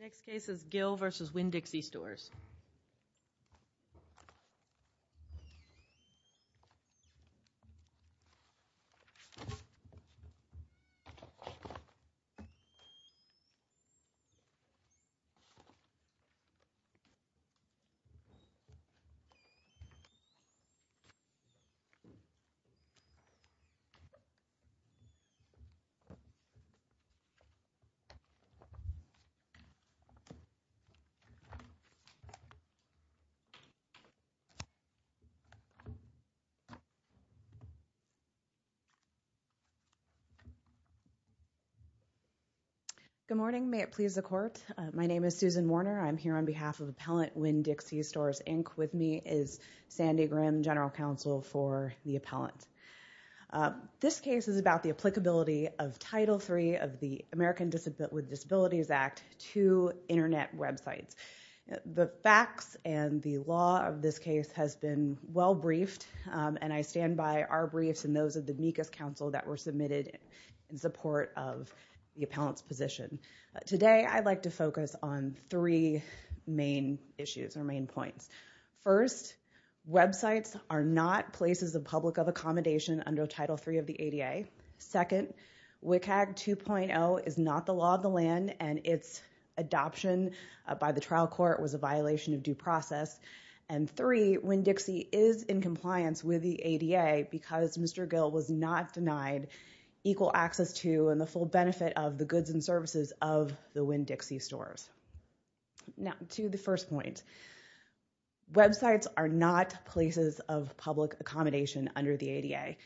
Next case is Gill v. Winn-Dixie Stores. Good morning, may it please the court. My name is Susan Warner. I'm here on behalf of Appellant Winn-Dixie Stores, Inc. With me is Sandy Grimm, General Counsel for the appellant. This case is about the applicability of Title III of the American with Disabilities Act to Internet websites. The facts and the law of this case has been well briefed, and I stand by our briefs and those of the DMECA's counsel that were submitted in support of the appellant's position. Today I'd like to focus on three main issues or main points. First, websites are not places of public accommodation under Title III of the ADA. Second, WCAG 2.0 is not the law of the land, and its adoption by the trial court was a violation of due process. And three, Winn-Dixie is in compliance with the ADA because Mr. Gill was not denied equal access to and the full benefit of the goods and services of the Winn-Dixie Stores. Now to the first point, websites are not places of public accommodation under the ADA.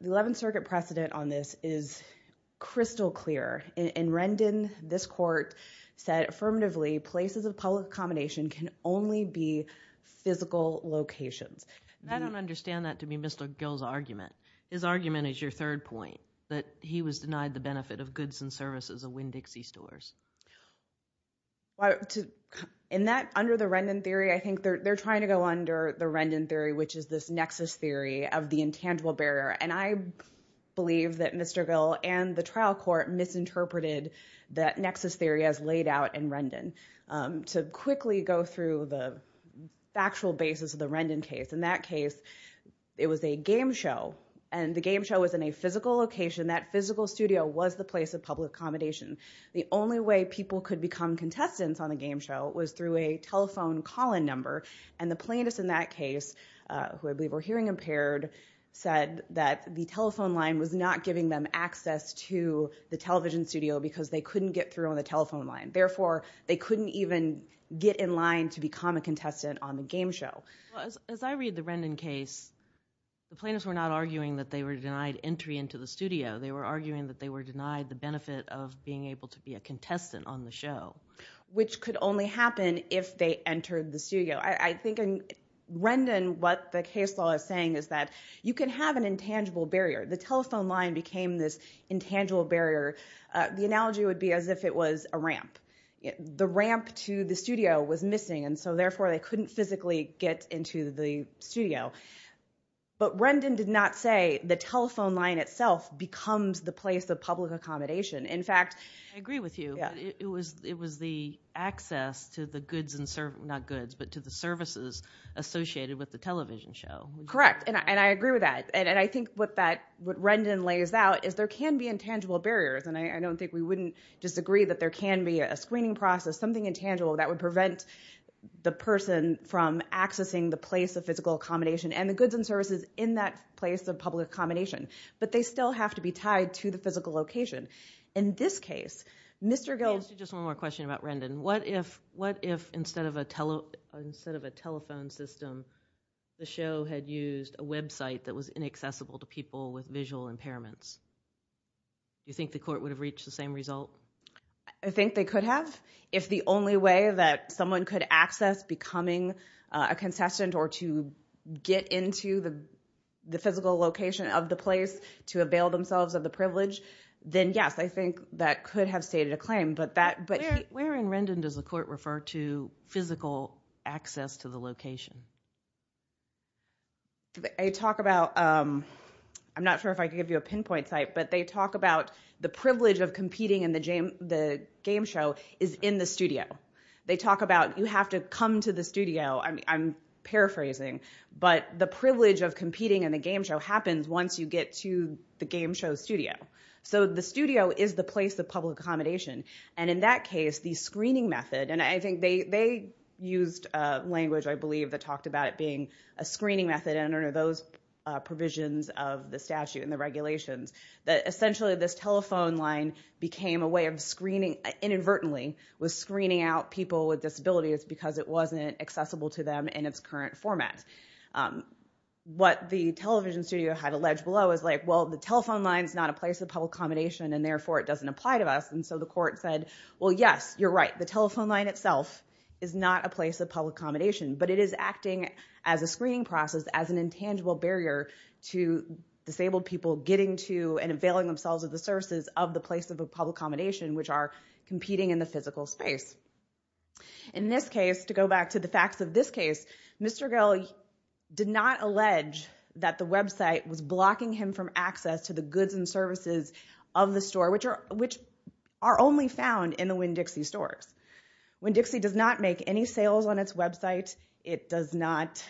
The Eleventh Circuit precedent on this is crystal clear. In Rendon, this court said affirmatively places of public accommodation can only be physical locations. And I don't understand that to be Mr. Gill's argument. His argument is your third point, that he was denied the benefit of goods and services of Winn-Dixie Stores. In that, under the Rendon theory, I think they're trying to go under the Rendon theory, which is this nexus theory of the intangible barrier. And I believe that Mr. Gill and the trial court misinterpreted that nexus theory as laid out in Rendon. To quickly go through the factual basis of the Rendon case, in that case, it was a game show and the game show was in a physical location. That physical studio was the place of public accommodation. The only way people could become contestants on the game show was through a telephone call-in That case, who I believe were hearing impaired, said that the telephone line was not giving them access to the television studio because they couldn't get through on the telephone line. Therefore, they couldn't even get in line to become a contestant on the game show. As I read the Rendon case, the plaintiffs were not arguing that they were denied entry into the studio. They were arguing that they were denied the benefit of being able to be a contestant on the show. Which could only happen if they entered the studio. I think in Rendon, what the case law is saying is that you can have an intangible barrier. The telephone line became this intangible barrier. The analogy would be as if it was a ramp. The ramp to the studio was missing and so therefore they couldn't physically get into the studio. But Rendon did not say the telephone line itself becomes the place of public accommodation. In fact, I agree with you. It was the access to the goods and services, not goods, but to the services associated with the television show. Correct. I agree with that. I think what Rendon lays out is there can be intangible barriers. I don't think we wouldn't disagree that there can be a screening process, something intangible that would prevent the person from accessing the place of physical accommodation and the goods and services in that place of public accommodation. But they still have to be tied to the physical location. In this case, Mr. Gill... I have just one more question about Rendon. What if instead of a telephone system, the show had used a website that was inaccessible to people with visual impairments? Do you think the court would have reached the same result? I think they could have. If the only way that someone could access becoming a contestant or to get into the physical location of the place to avail themselves of the privilege, then yes, I think that could have stated a claim. But that... Where in Rendon does the court refer to physical access to the location? They talk about... I'm not sure if I can give you a pinpoint site, but they talk about the privilege of competing in the game show is in the studio. They talk about you have to come to the studio. I'm paraphrasing. But the privilege of competing in the game show happens once you get to the game show studio. So the studio is the place of public accommodation. And in that case, the screening method... And I think they used language, I believe, that talked about it being a screening method under those provisions of the statute and the regulations that essentially this telephone line became a way of screening inadvertently, was screening out people with disabilities because it wasn't accessible to them in its current format. What the television studio had alleged below is like, well, the telephone line is not a place of public accommodation and therefore it doesn't apply to us. And so the court said, well, yes, you're right. The telephone line itself is not a place of public accommodation. But it is acting as a screening process, as an intangible barrier to disabled people getting to and availing themselves of the services of the place of public accommodation, which are competing in the physical space. In this case, to go back to the facts of this case, Mr. Gill did not allege that the website was blocking him from access to the goods and services of the store, which are only found in the Winn-Dixie stores. Winn-Dixie does not make any sales on its website. It does not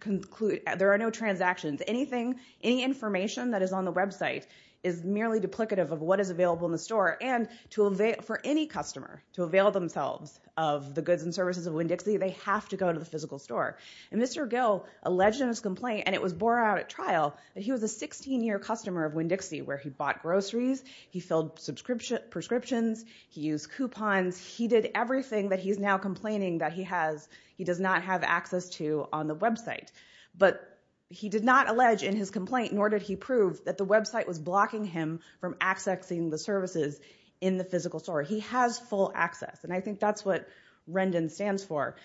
conclude... There are no transactions. Anything, any information that is on the website is merely duplicative of what is available in the store. And for any customer to avail themselves of the goods and services of Winn-Dixie, they have to go to the physical store. And Mr. Gill alleged in his complaint, and it was borne out at trial, that he was a 16-year customer of Winn-Dixie, where he bought groceries, he filled prescriptions, he used coupons. He did everything that he's now complaining that he does not have access to on the website. But he did not allege in his complaint, nor did he prove, that the website was blocking him from accessing the services in the physical store. He has full access. And I think that's what Rendon stands for.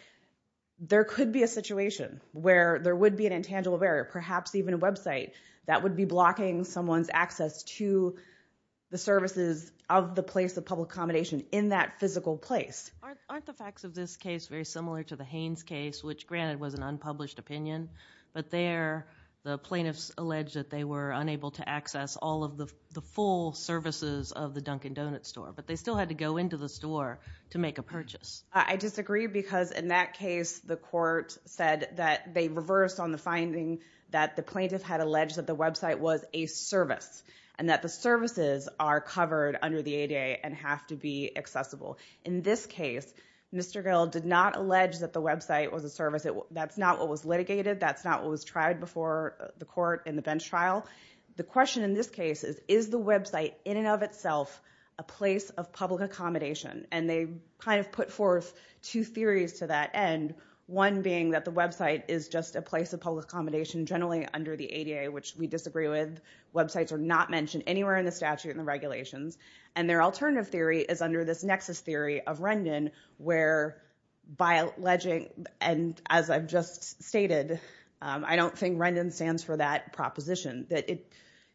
There could be a situation where there would be an intangible barrier, perhaps even a website, that would be blocking someone's access to the services of the place of public accommodation in that physical place. Aren't the facts of this case very similar to the Haines case, which granted was an unpublished opinion, but there, the plaintiffs alleged that they were unable to access all of the full services of the Dunkin' Donuts store, but they still had to go into the store to make a purchase. I disagree, because in that case, the court said that they reversed on the finding that the plaintiff had alleged that the website was a service, and that the services are covered under the ADA and have to be accessible. In this case, Mr. Gill did not allege that the website was a service. That's not what was litigated. That's not what was tried before the court in the bench trial. The question in this case is, is the website in and of itself a place of public accommodation? And they kind of put forth two theories to that end, one being that the website is just a place of public accommodation, generally under the ADA, which we disagree with. Websites are not mentioned anywhere in the statute and the regulations. And their alternative theory is under this nexus theory of Rendon, where by alleging, and as I've just stated, I don't think Rendon stands for that proposition, that it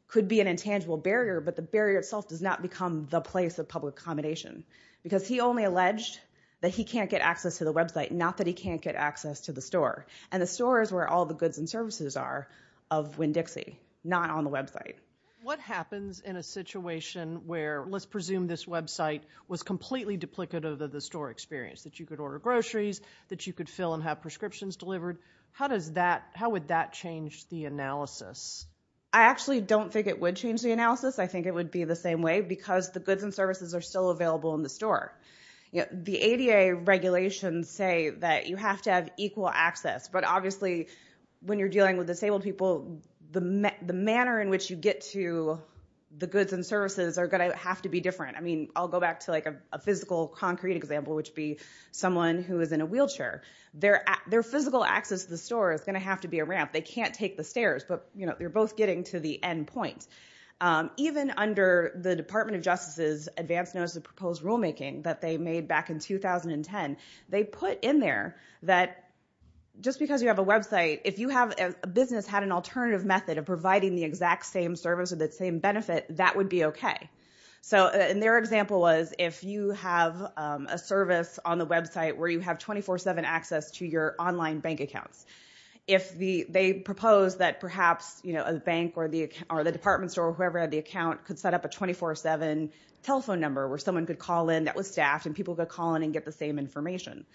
could be an intangible barrier, but the barrier itself does not become the place of public accommodation. Because he only alleged that he can't get access to the website, not that he can't get access to the store. And the store is where all the goods and services are of Winn-Dixie, not on the website. What happens in a situation where, let's presume this website was completely duplicative of the store experience? That you could order groceries, that you could fill and have prescriptions delivered. How does that, how would that change the analysis? I actually don't think it would change the analysis. I think it would be the same way, because the goods and services are still available in the store. The ADA regulations say that you have to have equal access, but obviously when you're dealing with disabled people, the manner in which you get to the goods and services are going to have to be different. I mean, I'll go back to a physical concrete example, which would be someone who is in a wheelchair. Their physical access to the store is going to have to be a ramp. They can't take the stairs, but they're both getting to the end point. Even under the Department of Justice's advanced notice of proposed rulemaking that they made back in 2010, they put in there that just because you have a website, if you have a business that had an alternative method of providing the exact same service with the same benefit, that would be okay. Their example was, if you have a service on the website where you have 24-7 access to your online bank accounts, if they proposed that perhaps a bank or the department store or whoever had the account could set up a 24-7 telephone number where someone could call in and get the same information.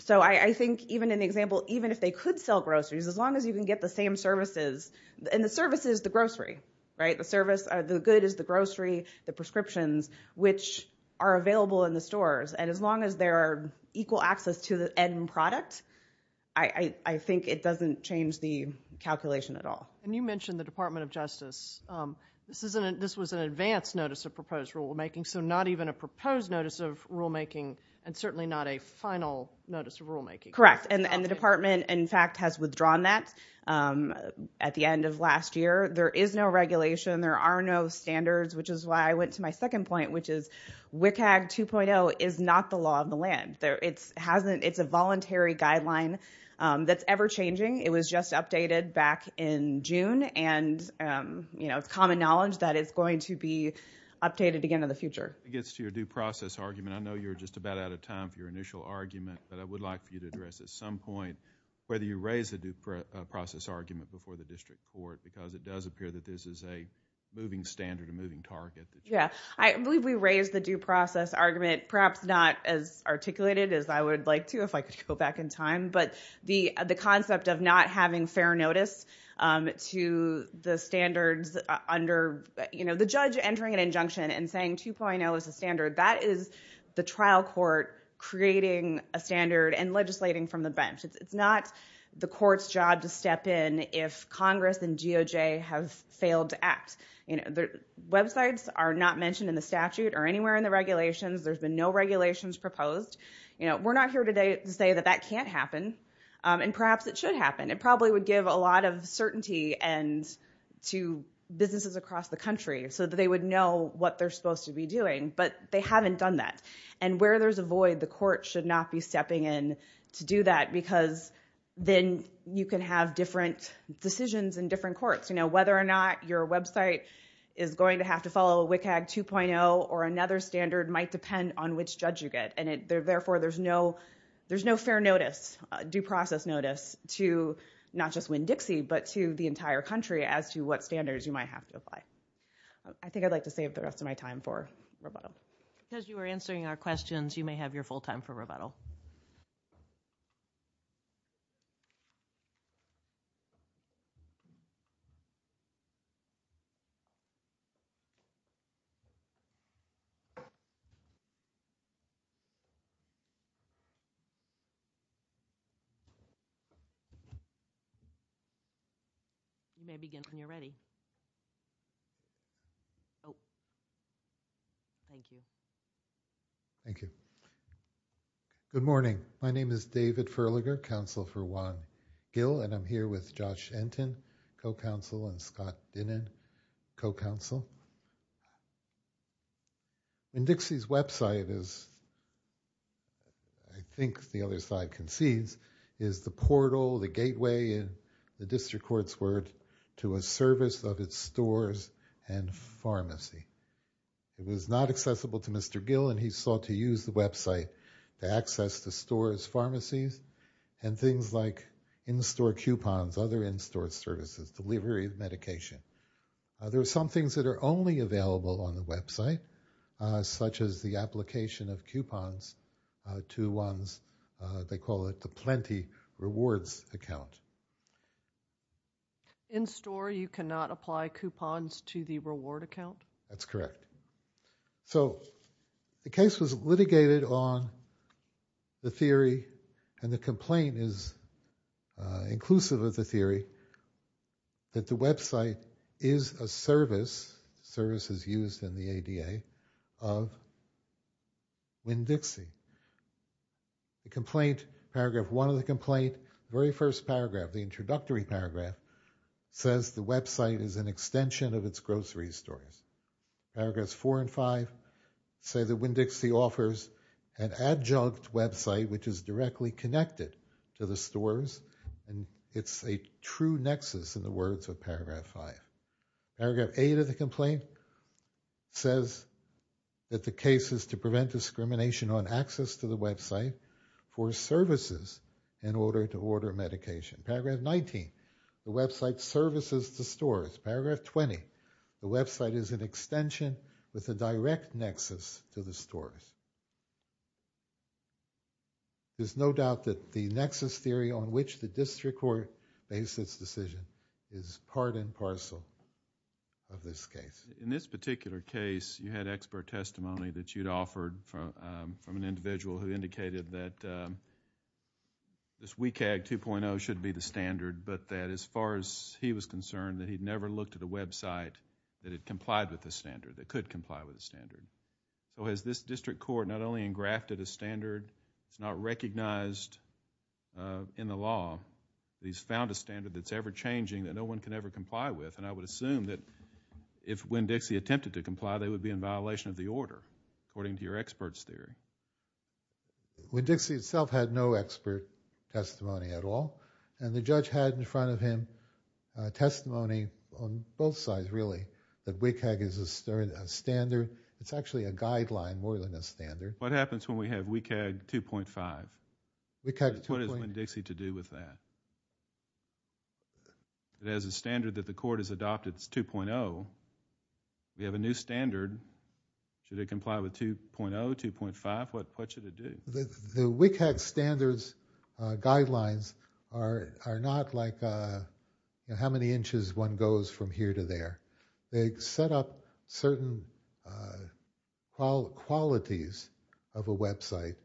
So I think even in the example, even if they could sell groceries, as long as you can get the same services, and the service is the grocery, right? The service, the good is the grocery, the prescriptions which are available in the stores, and as long as there are equal access to the end product, I think it doesn't change the calculation at all. And you mentioned the Department of Justice. This was an advanced notice of proposed rulemaking, so not even a proposed notice of rulemaking, and certainly not a final notice of rulemaking. Correct. And the department, in fact, has withdrawn that at the end of last year. There is no regulation, there are no standards, which is why I went to my second point, which is WCAG 2.0 is not the law of the land. It's a voluntary guideline that's ever-changing. It was just updated back in June, and it's common knowledge that it's going to be updated again in the future. It gets to your due process argument. I know you're just about out of time for your initial argument, but I would like for you to address at some point whether you raise the due process argument before the district court, because it does appear that this is a moving standard, a moving target. Yeah. I believe we raised the due process argument, perhaps not as articulated as I would like to if I could go back in time, but the concept of not having fair notice to the standards under the judge entering an injunction and saying 2.0 is the standard, that is the trial court creating a standard and legislating from the bench. It's not the court's job to step in if Congress and DOJ have failed to act. Websites are not mentioned in the statute or anywhere in the regulations. There's been no regulations proposed. We're not here today to say that that can't happen, and perhaps it should happen. It probably would give a lot of certainty to businesses across the country so that they would know what they're supposed to be doing, but they haven't done that. Where there's a void, the court should not be stepping in to do that, because then you can have different decisions in different courts. Whether or not your website is going to have to follow WCAG 2.0 or another standard might depend on which judge you get, and therefore there's no fair notice, due process notice, to not just Winn-Dixie, but to the entire country as to what standards you might have to apply. I think I'd like to save the rest of my time for rebuttal. Because you were answering our questions, you may have your full time for rebuttal. You may begin when you're ready. Oh. Thank you. Thank you. Good morning. My name is David Furlager, Counsel for Juan Gill, and I'm here with Josh Enten, co-counsel, and Scott Dinnan, co-counsel. Winn-Dixie's website is, I think the other side concedes, is the portal, the gateway in the district court's word, to a service of its stores and pharmacy. It was not accessible to Mr. Gill, and he sought to use the website to access the store's pharmacies and things like in-store coupons, other in-store services, delivery of medication. There are some things that are only available on the website, such as the application of coupons to one's, they call it the Plenty Rewards account. In-store, you cannot apply coupons to the reward account? That's correct. So the case was litigated on the theory, and the complaint is inclusive of the theory, that the website is a service, services used in the ADA, of Winn-Dixie. The complaint, paragraph one of the complaint, very first paragraph, the introductory paragraph, says the website is an extension of its grocery stores. Paragraphs four and five say that Winn-Dixie offers an adjunct website, which is directly connected to the stores, and it's a true nexus in the words of paragraph five. Paragraph eight of the complaint says that the case is to prevent discrimination on access to the website for services in order to order medication. Paragraph 19, the website services the stores. Paragraph 20, the website is an extension with a direct nexus to the stores. There's no doubt that the nexus theory on which the district court based its decision is part and parcel of this case. In this particular case, you had expert testimony that you'd offered from an individual who indicated that this WCAG 2.0 should be the standard, but that as far as he was concerned, that he'd never looked at a website that had complied with the standard, that could comply with the standard. So, has this district court not only engrafted a standard, it's not recognized in the law, he's found a standard that's ever-changing that no one can ever comply with, and I would assume that if Winn-Dixie attempted to comply, they would be in violation of the order, according to your expert's theory. Winn-Dixie itself had no expert testimony at all, and the judge had in front of him testimony on both sides really, that WCAG is a standard. It's actually a guideline more than a standard. What happens when we have WCAG 2.5? What does Winn-Dixie to do with that? It has a standard that the court has adopted, it's 2.0, we have a new standard, should it comply with 2.0, 2.5, what should it do? The WCAG standards guidelines are not like how many inches one goes from here to there. They set up certain qualities of a website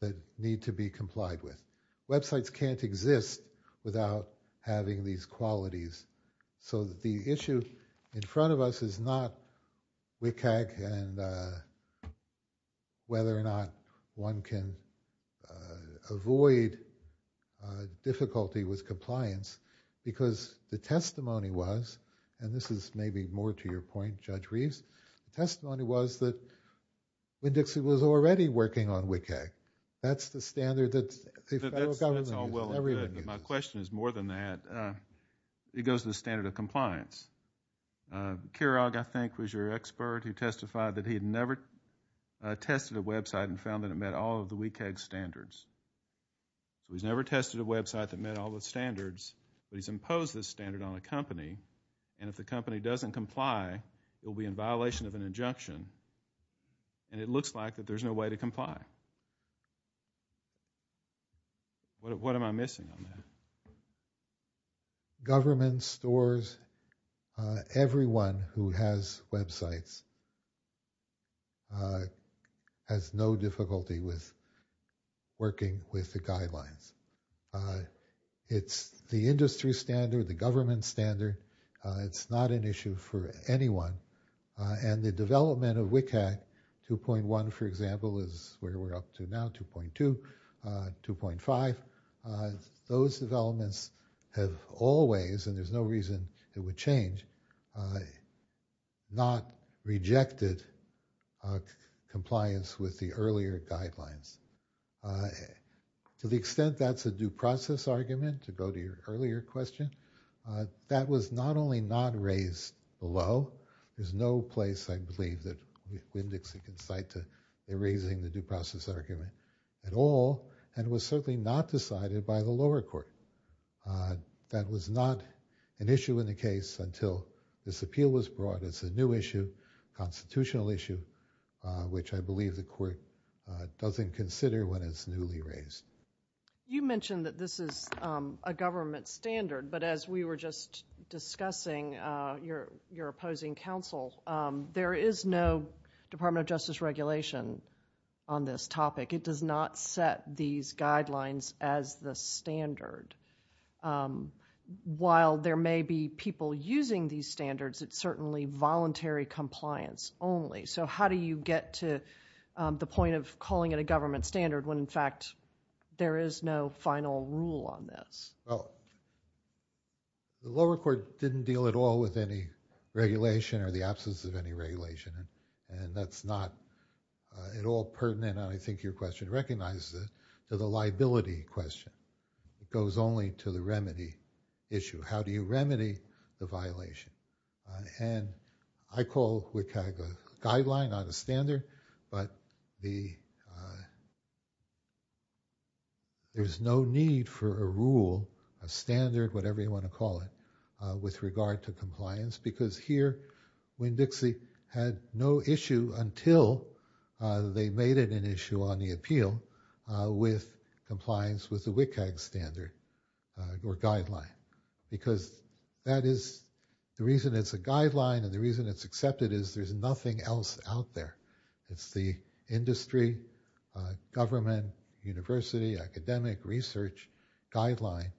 that need to be complied with. Websites can't exist without having these qualities, so the issue in front of us is not WCAG and whether or not one can avoid difficulty with compliance, because the testimony was, and this is maybe more to your point, Judge Reeves, the testimony was that Winn-Dixie was already working on WCAG. That's the standard that the federal government uses, everyone uses. My question is more than that. It goes to the standard of compliance. Kirog, I think, was your expert who testified that he had never tested a website and found that it met all of the WCAG standards. So he's never tested a website that met all the standards, but he's imposed this standard on a company, and if the company doesn't comply, it will be in violation of an injunction, and it looks like that there's no way to comply. What am I missing on that? Government stores, everyone who has websites has no difficulty with working with the guidelines. It's the industry standard, the government standard, it's not an issue for anyone, and the development of WCAG 2.1, for example, is where we're up to now, 2.2, 2.5, those developments have always, and there's no reason it would change, not rejected compliance with the earlier guidelines. To the extent that's a due process argument, to go to your earlier question, that was not only not raised below, there's no place, I believe, that WMDC can cite to erasing the due process argument at all, and it was certainly not decided by the lower court. That was not an issue in the case until this appeal was brought as a new issue, constitutional issue, which I believe the court doesn't consider when it's newly raised. You mentioned that this is a government standard, but as we were just discussing, your opposing counsel, there is no Department of Justice regulation on this topic. It does not set these guidelines as the standard. While there may be people using these standards, it's certainly voluntary compliance only. How do you get to the point of calling it a government standard when, in fact, there is no final rule on this? The lower court didn't deal at all with any regulation or the absence of any regulation, and that's not at all pertinent, and I think your question recognizes it, to the liability question. It goes only to the remedy issue. How do you remedy the violation? And I call WCAG a guideline, not a standard, but there's no need for a rule, a standard, whatever you want to call it, with regard to compliance, because here, WMDC had no issue until they made it an issue on the appeal with compliance with the WCAG standard or guideline, because that is the reason it's a guideline, and the reason it's accepted is there's nothing else out there. It's the industry, government, university, academic research guideline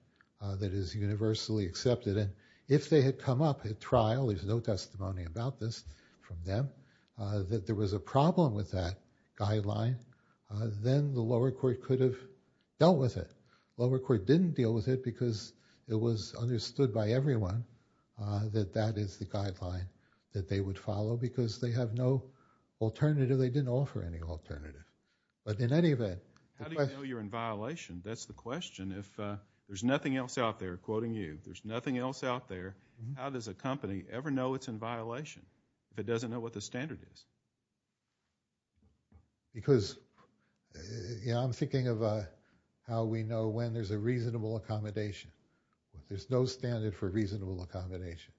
that is universally accepted, and if they had come up at trial, there's no testimony about this from them, that there was a problem with that guideline, then the lower court could have dealt with it. Lower court didn't deal with it because it was understood by everyone that that is the guideline that they would follow, because they have no alternative. They didn't offer any alternative, but in any event... How do you know you're in violation? That's the question. If there's nothing else out there, quoting you, there's nothing else out there, how does a company ever know it's in violation if it doesn't know what the standard is? Because, you know, I'm thinking of how we know when there's a reasonable accommodation. There's no standard for reasonable accommodation.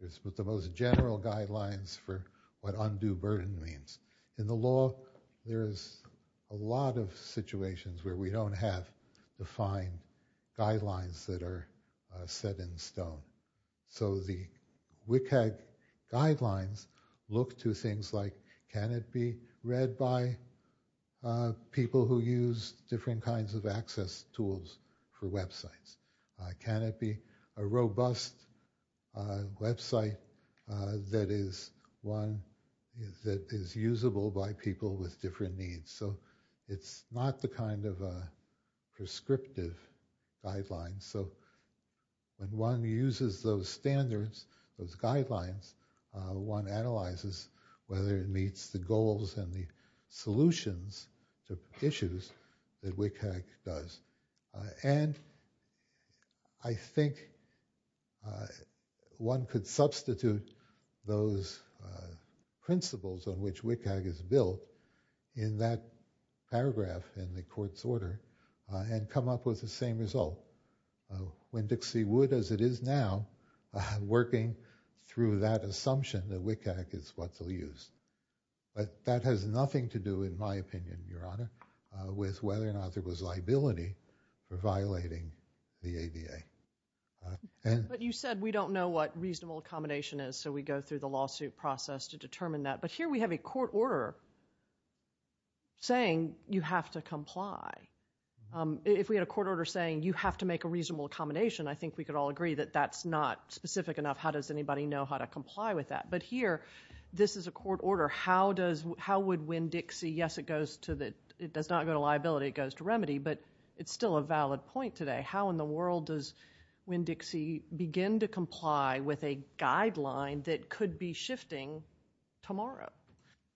There's the most general guidelines for what undue burden means. In the law, there's a lot of situations where we don't have defined guidelines that are set in stone. So the WCAG guidelines look to things like, can it be read by people who use different kinds of access tools for websites? Can it be a robust website that is one that is usable by people with different needs? So it's not the kind of prescriptive guidelines. So when one uses those standards, those guidelines, one analyzes whether it meets the goals and the solutions to issues that WCAG does. And I think one could substitute those principles on which WCAG is built in that paragraph in the court's order and come up with the same result. When Dixie Wood, as it is now, working through that assumption that WCAG is what they'll use. But that has nothing to do, in my opinion, Your Honor, with whether or not there was liability for violating the ADA. But you said we don't know what reasonable accommodation is, so we go through the lawsuit process to determine that. But here we have a court order saying you have to comply. If we had a court order saying you have to make a reasonable accommodation, I think we could all agree that that's not specific enough. How does anybody know how to comply with that? But here, this is a court order. How would Winn-Dixie, yes, it does not go to liability, it goes to remedy, but it's still a valid point today. How in the world does Winn-Dixie begin to comply with a guideline that could be shifting tomorrow?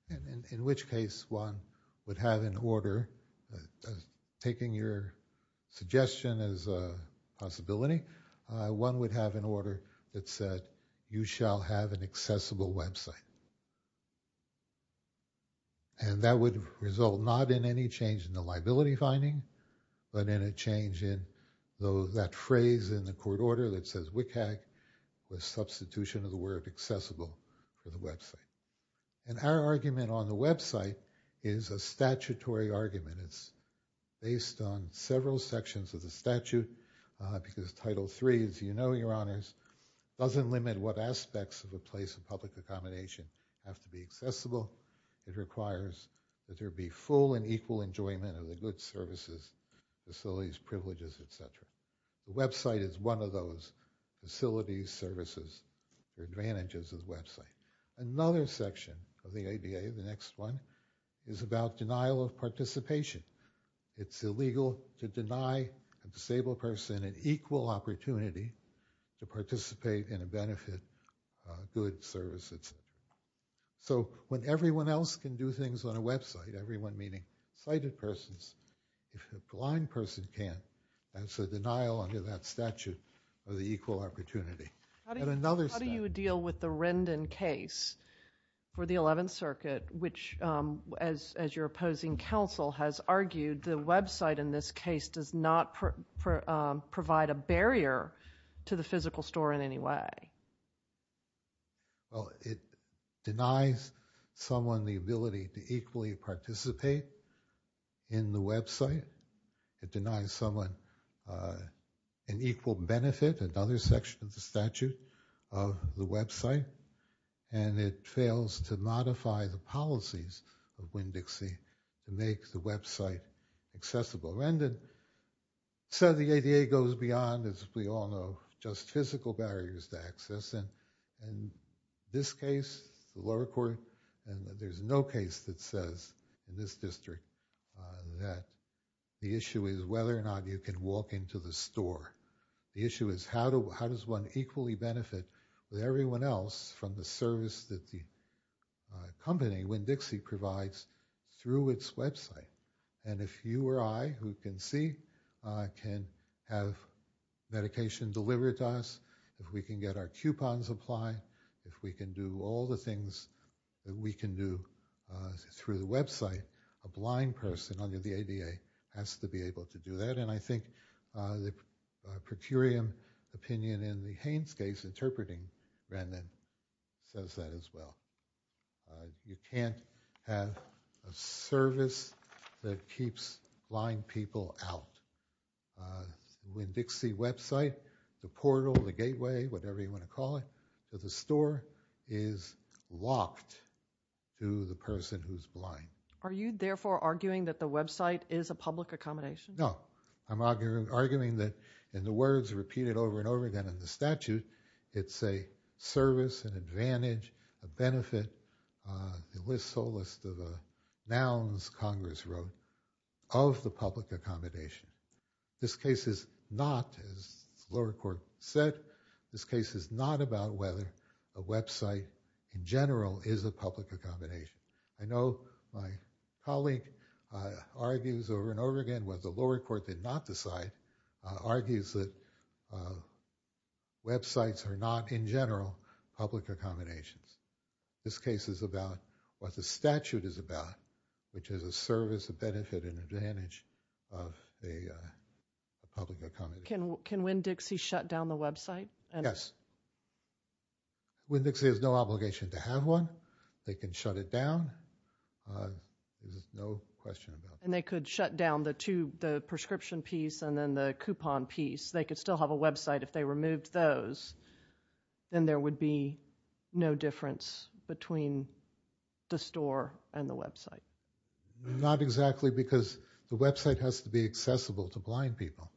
And in which case one would have in order, taking your suggestion as a possibility, one would have an order that said you shall have an accessible website. And that would result not in any change in the liability finding, but in a change in that phrase in the court order that says WCAG was substitution of the word accessible for the website. And our argument on the website is a statutory argument. It's based on several sections of the statute, because Title III, as you know, Your Honors, doesn't limit what aspects of a place of public accommodation have to be accessible. It requires that there be full and equal enjoyment of the goods, services, facilities, privileges, et cetera. The website is one of those facilities, services, advantages of the website. Another section of the ADA, the next one, is about denial of participation. It's illegal to deny a disabled person an equal opportunity to participate in a benefit, goods, services, et cetera. So when everyone else can do things on a website, everyone meaning sighted persons, if a blind person can't, that's a denial under that statute of the equal opportunity. How do you deal with the Rendon case for the 11th Circuit, which, as your opposing counsel has argued, the website in this case does not provide a barrier to the physical store in any way? Well, it denies someone the ability to equally participate in the website. It denies someone an equal benefit, another section of the statute of the website, and it fails to modify the policies of Winn-Dixie to make the website accessible. Rendon said the ADA goes beyond, as we all know, just physical barriers to access. In this case, the lower court, there's no case that says in this district that the issue is whether or not you can walk into the store. The issue is how does one equally benefit with everyone else from the service that the company, Winn-Dixie, provides through its website? And if you or I, who can see, can have medication delivered to us, if we can get our coupons applied, if we can do all the things that we can do through the website, a blind person under the ADA has to be able to do that. And I think the per curiam opinion in the Haynes case interpreting Rendon says that as well. Uh, you can't have a service that keeps blind people out. Uh, Winn-Dixie website, the portal, the gateway, whatever you want to call it, to the store is locked to the person who's blind. Are you therefore arguing that the website is a public accommodation? No, I'm arguing that in the words repeated over and over again in the statute, it's a service, an advantage, a benefit, uh, it lists a list of nouns Congress wrote of the public accommodation. This case is not, as the lower court said, this case is not about whether a website in general is a public accommodation. I know my colleague argues over and over again, what the lower court did not decide, argues that, uh, websites are not in general public accommodations. This case is about what the statute is about, which is a service, a benefit, an advantage of a public accommodation. Can Winn-Dixie shut down the website? Yes, Winn-Dixie has no obligation to have one. They can shut it down. There's no question about that. They could shut down the prescription piece and then the coupon piece. They could still have a website if they removed those, then there would be no difference between the store and the website. Not exactly because the website has to be accessible to blind people.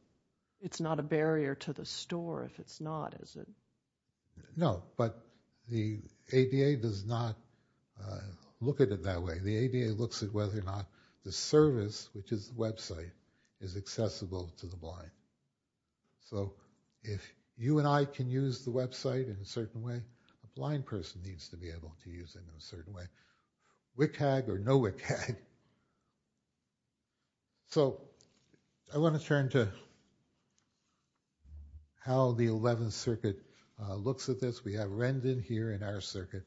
It's not a barrier to the store if it's not, is it? No, but the ADA does not look at it that way. The ADA looks at whether or not the service, which is the website, is accessible to the blind. So if you and I can use the website in a certain way, a blind person needs to be able to use it in a certain way. WCAG or no WCAG. So I want to turn to how the 11th Circuit looks at this. We have Rendon here in our circuit,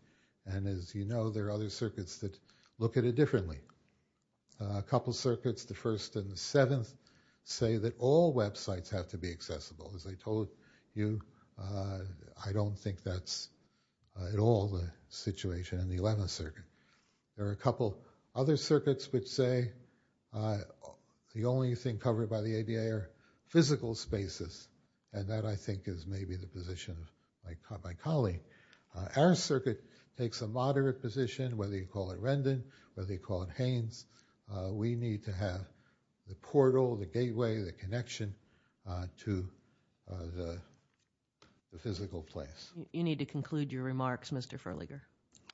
and as you know, there are other circuits that look at it differently. A couple circuits, the 1st and the 7th, say that all websites have to be accessible. As I told you, I don't think that's at all the situation in the 11th Circuit. There are a couple other circuits which say the only thing covered by the ADA are physical spaces, and that I think is maybe the position of my colleague. Our circuit takes a moderate position, whether you call it Rendon, whether you call it Haines. We need to have the portal, the gateway, the connection to the physical place. You need to conclude your remarks, Mr. Ferliger.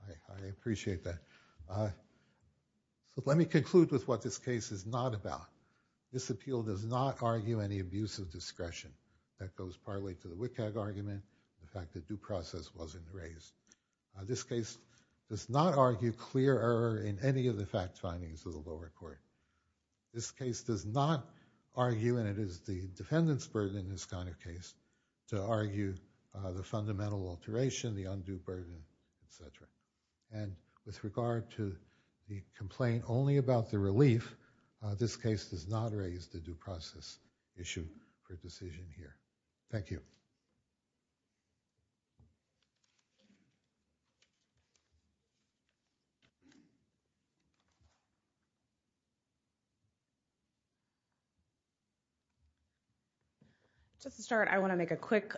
I appreciate that. So let me conclude with what this case is not about. This appeal does not argue any abuse of discretion. That goes partly to the WCAG argument, the fact that due process wasn't raised. This case does not argue clear error in any of the fact findings of the lower court. This case does not argue, and it is the defendant's burden in this kind of case, to argue the fundamental alteration, the undue burden, etc. And with regard to the complaint only about the relief, this case does not raise the due process issue for decision here. Thank you. Just to start, I want to make a quick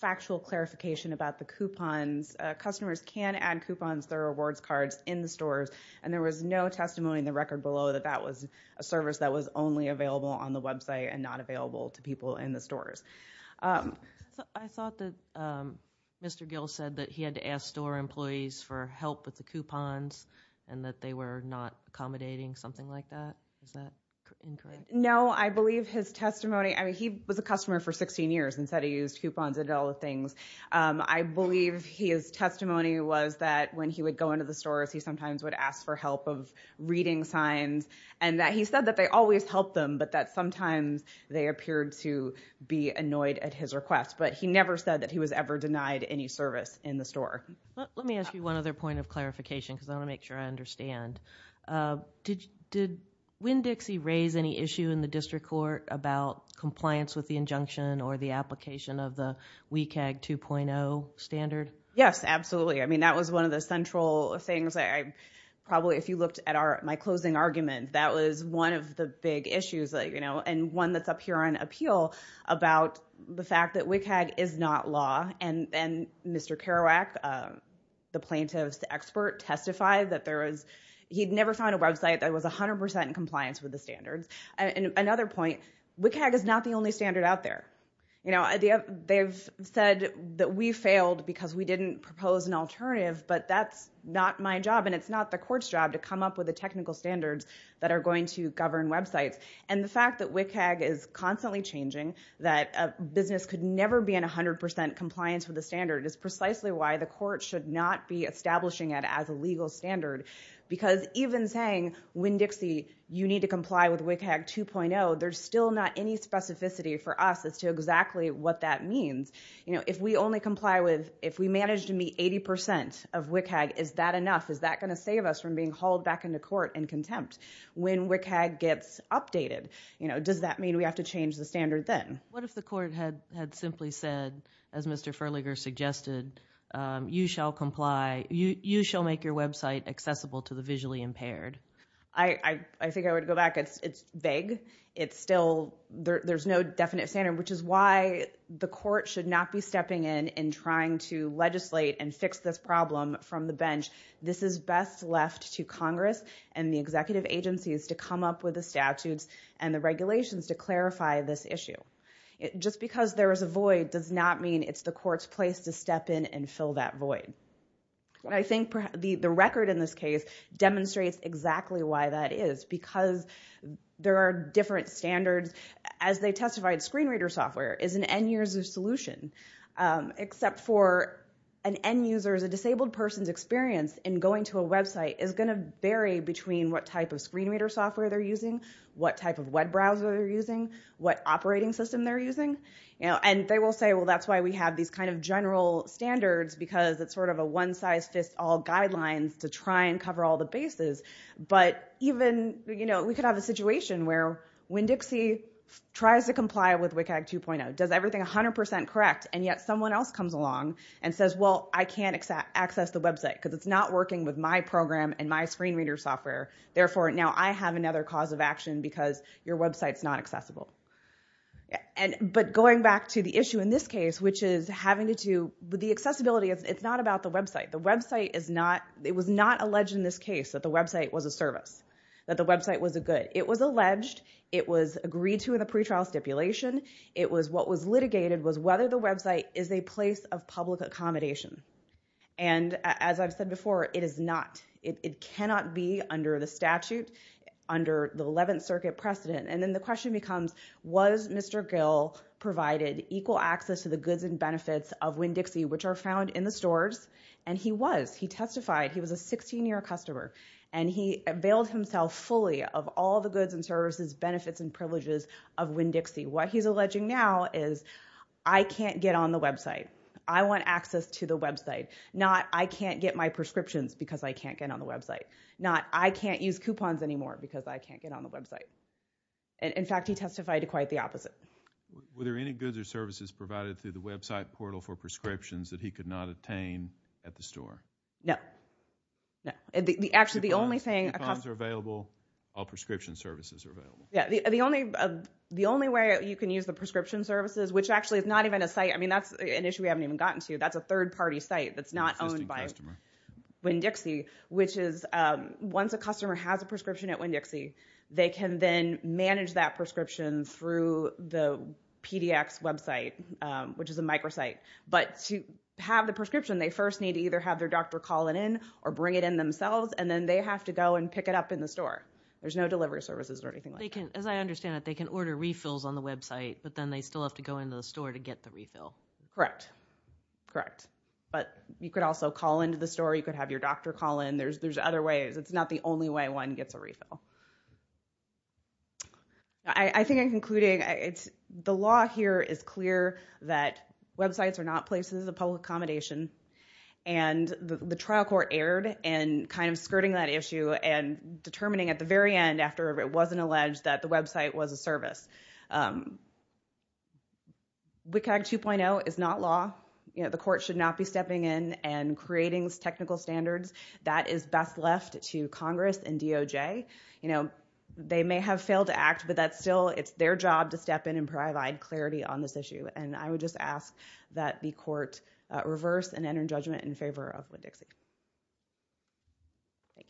factual clarification about the coupons. Customers can add coupons, their rewards cards, in the stores, and there was no testimony in the record below that that was a service that was only available on the website and not available to people in the stores. I thought that Mr. Gill said that he had to ask store employees for help with the coupons and that they were not accommodating, something like that. Is that incorrect? No, I believe his testimony, I mean, he was a customer for 16 years and said he used coupons and did all the things. I believe his testimony was that when he would go into the stores, he sometimes would ask for help of reading signs, and that he said that they always helped them, but that sometimes they appeared to be annoyed at his request. But he never said that he was ever denied any service in the store. Let me ask you one other point of clarification, because I want to make sure I understand. Did Winn-Dixie raise any issue in the district court about compliance with the injunction or the application of the WCAG 2.0 standard? Yes, absolutely. I mean, that was one of the central things. Probably, if you looked at my closing argument, that was one of the big issues, you know, and one that's up here on appeal about the fact that WCAG is not law. And Mr. Kerouac, the plaintiff's expert, testified that there was, he'd never found a website that was 100% in compliance with the standards. Another point, WCAG is not the only standard out there. You know, they've said that we failed because we didn't propose an alternative, but that's not my job, and it's not the court's job to come up with the technical standards that are going to govern websites. And the fact that WCAG is constantly changing, that a business could never be in 100% compliance with the standard, is precisely why the court should not be establishing it as a legal standard. Because even saying, Winn-Dixie, you need to comply with WCAG 2.0, there's still not any specificity for us as to exactly what that means. You know, if we only comply with, if we manage to meet 80% of WCAG, is that enough? Is that going to save us from being hauled back into court in contempt when WCAG gets updated? You know, does that mean we have to change the standard then? What if the court had simply said, as Mr. Furliger suggested, you shall comply, you shall make your website accessible to the visually impaired? I think I would go back. It's vague. It's still, there's no definite standard, which is why the court should not be stepping in and trying to legislate and fix this problem from the bench. This is best left to Congress and the executive agencies to come up with the statutes and the regulations to clarify this issue. Just because there is a void does not mean it's the court's place to step in and fill that void. I think the record in this case demonstrates exactly why that is, because there are different standards. As they testified, screen reader software is an end-user solution, except for an end-user, as a disabled person's experience in going to a website is going to vary between what type of screen reader software they're using, what operating system they're using. They will say, well, that's why we have these kind of general standards, because it's sort of a one-size-fits-all guidelines to try and cover all the bases. But even, you know, we could have a situation where when Dixie tries to comply with WCAG 2.0, does everything 100% correct, and yet someone else comes along and says, well, I can't access the website because it's not working with my program and my screen reader software. Therefore, now I have another cause of action because your website's not accessible. And but going back to the issue in this case, which is having to do with the accessibility, it's not about the website. The website is not... It was not alleged in this case that the website was a service, that the website was a good. It was alleged. It was agreed to in the pretrial stipulation. It was what was litigated was whether the website is a place of public accommodation. And as I've said before, it is not. It cannot be under the statute, under the 11th Circuit precedent. And then the question becomes, was Mr. Gill provided equal access to the goods and benefits of Winn-Dixie, which are found in the stores? And he was. He testified. He was a 16-year customer. And he availed himself fully of all the goods and services, benefits and privileges of Winn-Dixie. What he's alleging now is I can't get on the website. I want access to the website. Not I can't get my prescriptions because I can't get on the website. Not I can't use coupons anymore because I can't get on the website. In fact, he testified to quite the opposite. Were there any goods or services provided through the website portal for prescriptions that he could not attain at the store? No. No. Actually, the only thing... Coupons are available. All prescription services are available. Yeah, the only way you can use the prescription services, which actually is not even a site. I mean, that's an issue we haven't even gotten to. That's a third-party site that's not owned by Winn-Dixie, which is once a customer has a prescription at Winn-Dixie, they can then manage that prescription through the PDX website, which is a microsite. But to have the prescription, they first need to either have their doctor call it in or bring it in themselves, and then they have to go and pick it up in the store. There's no delivery services or anything like that. As I understand it, they can order refills on the website, but then they still have to go into the store to get the refill. Correct. Correct. But you could also call into the store. You could have your doctor call in. There's other ways. It's not the only way one gets a refill. I think I'm concluding the law here is clear that websites are not places of public accommodation, and the trial court erred in kind of skirting that issue and determining at the very end, after it wasn't alleged that the website was a service. WCAG 2.0 is not law. The court should not be stepping in and creating technical standards. That is best left to Congress and DOJ. They may have failed to act, but that's still, it's their job to step in and provide clarity on this issue. And I would just ask that the court reverse and enter judgment in favor of Wood-Dixie. Thank you.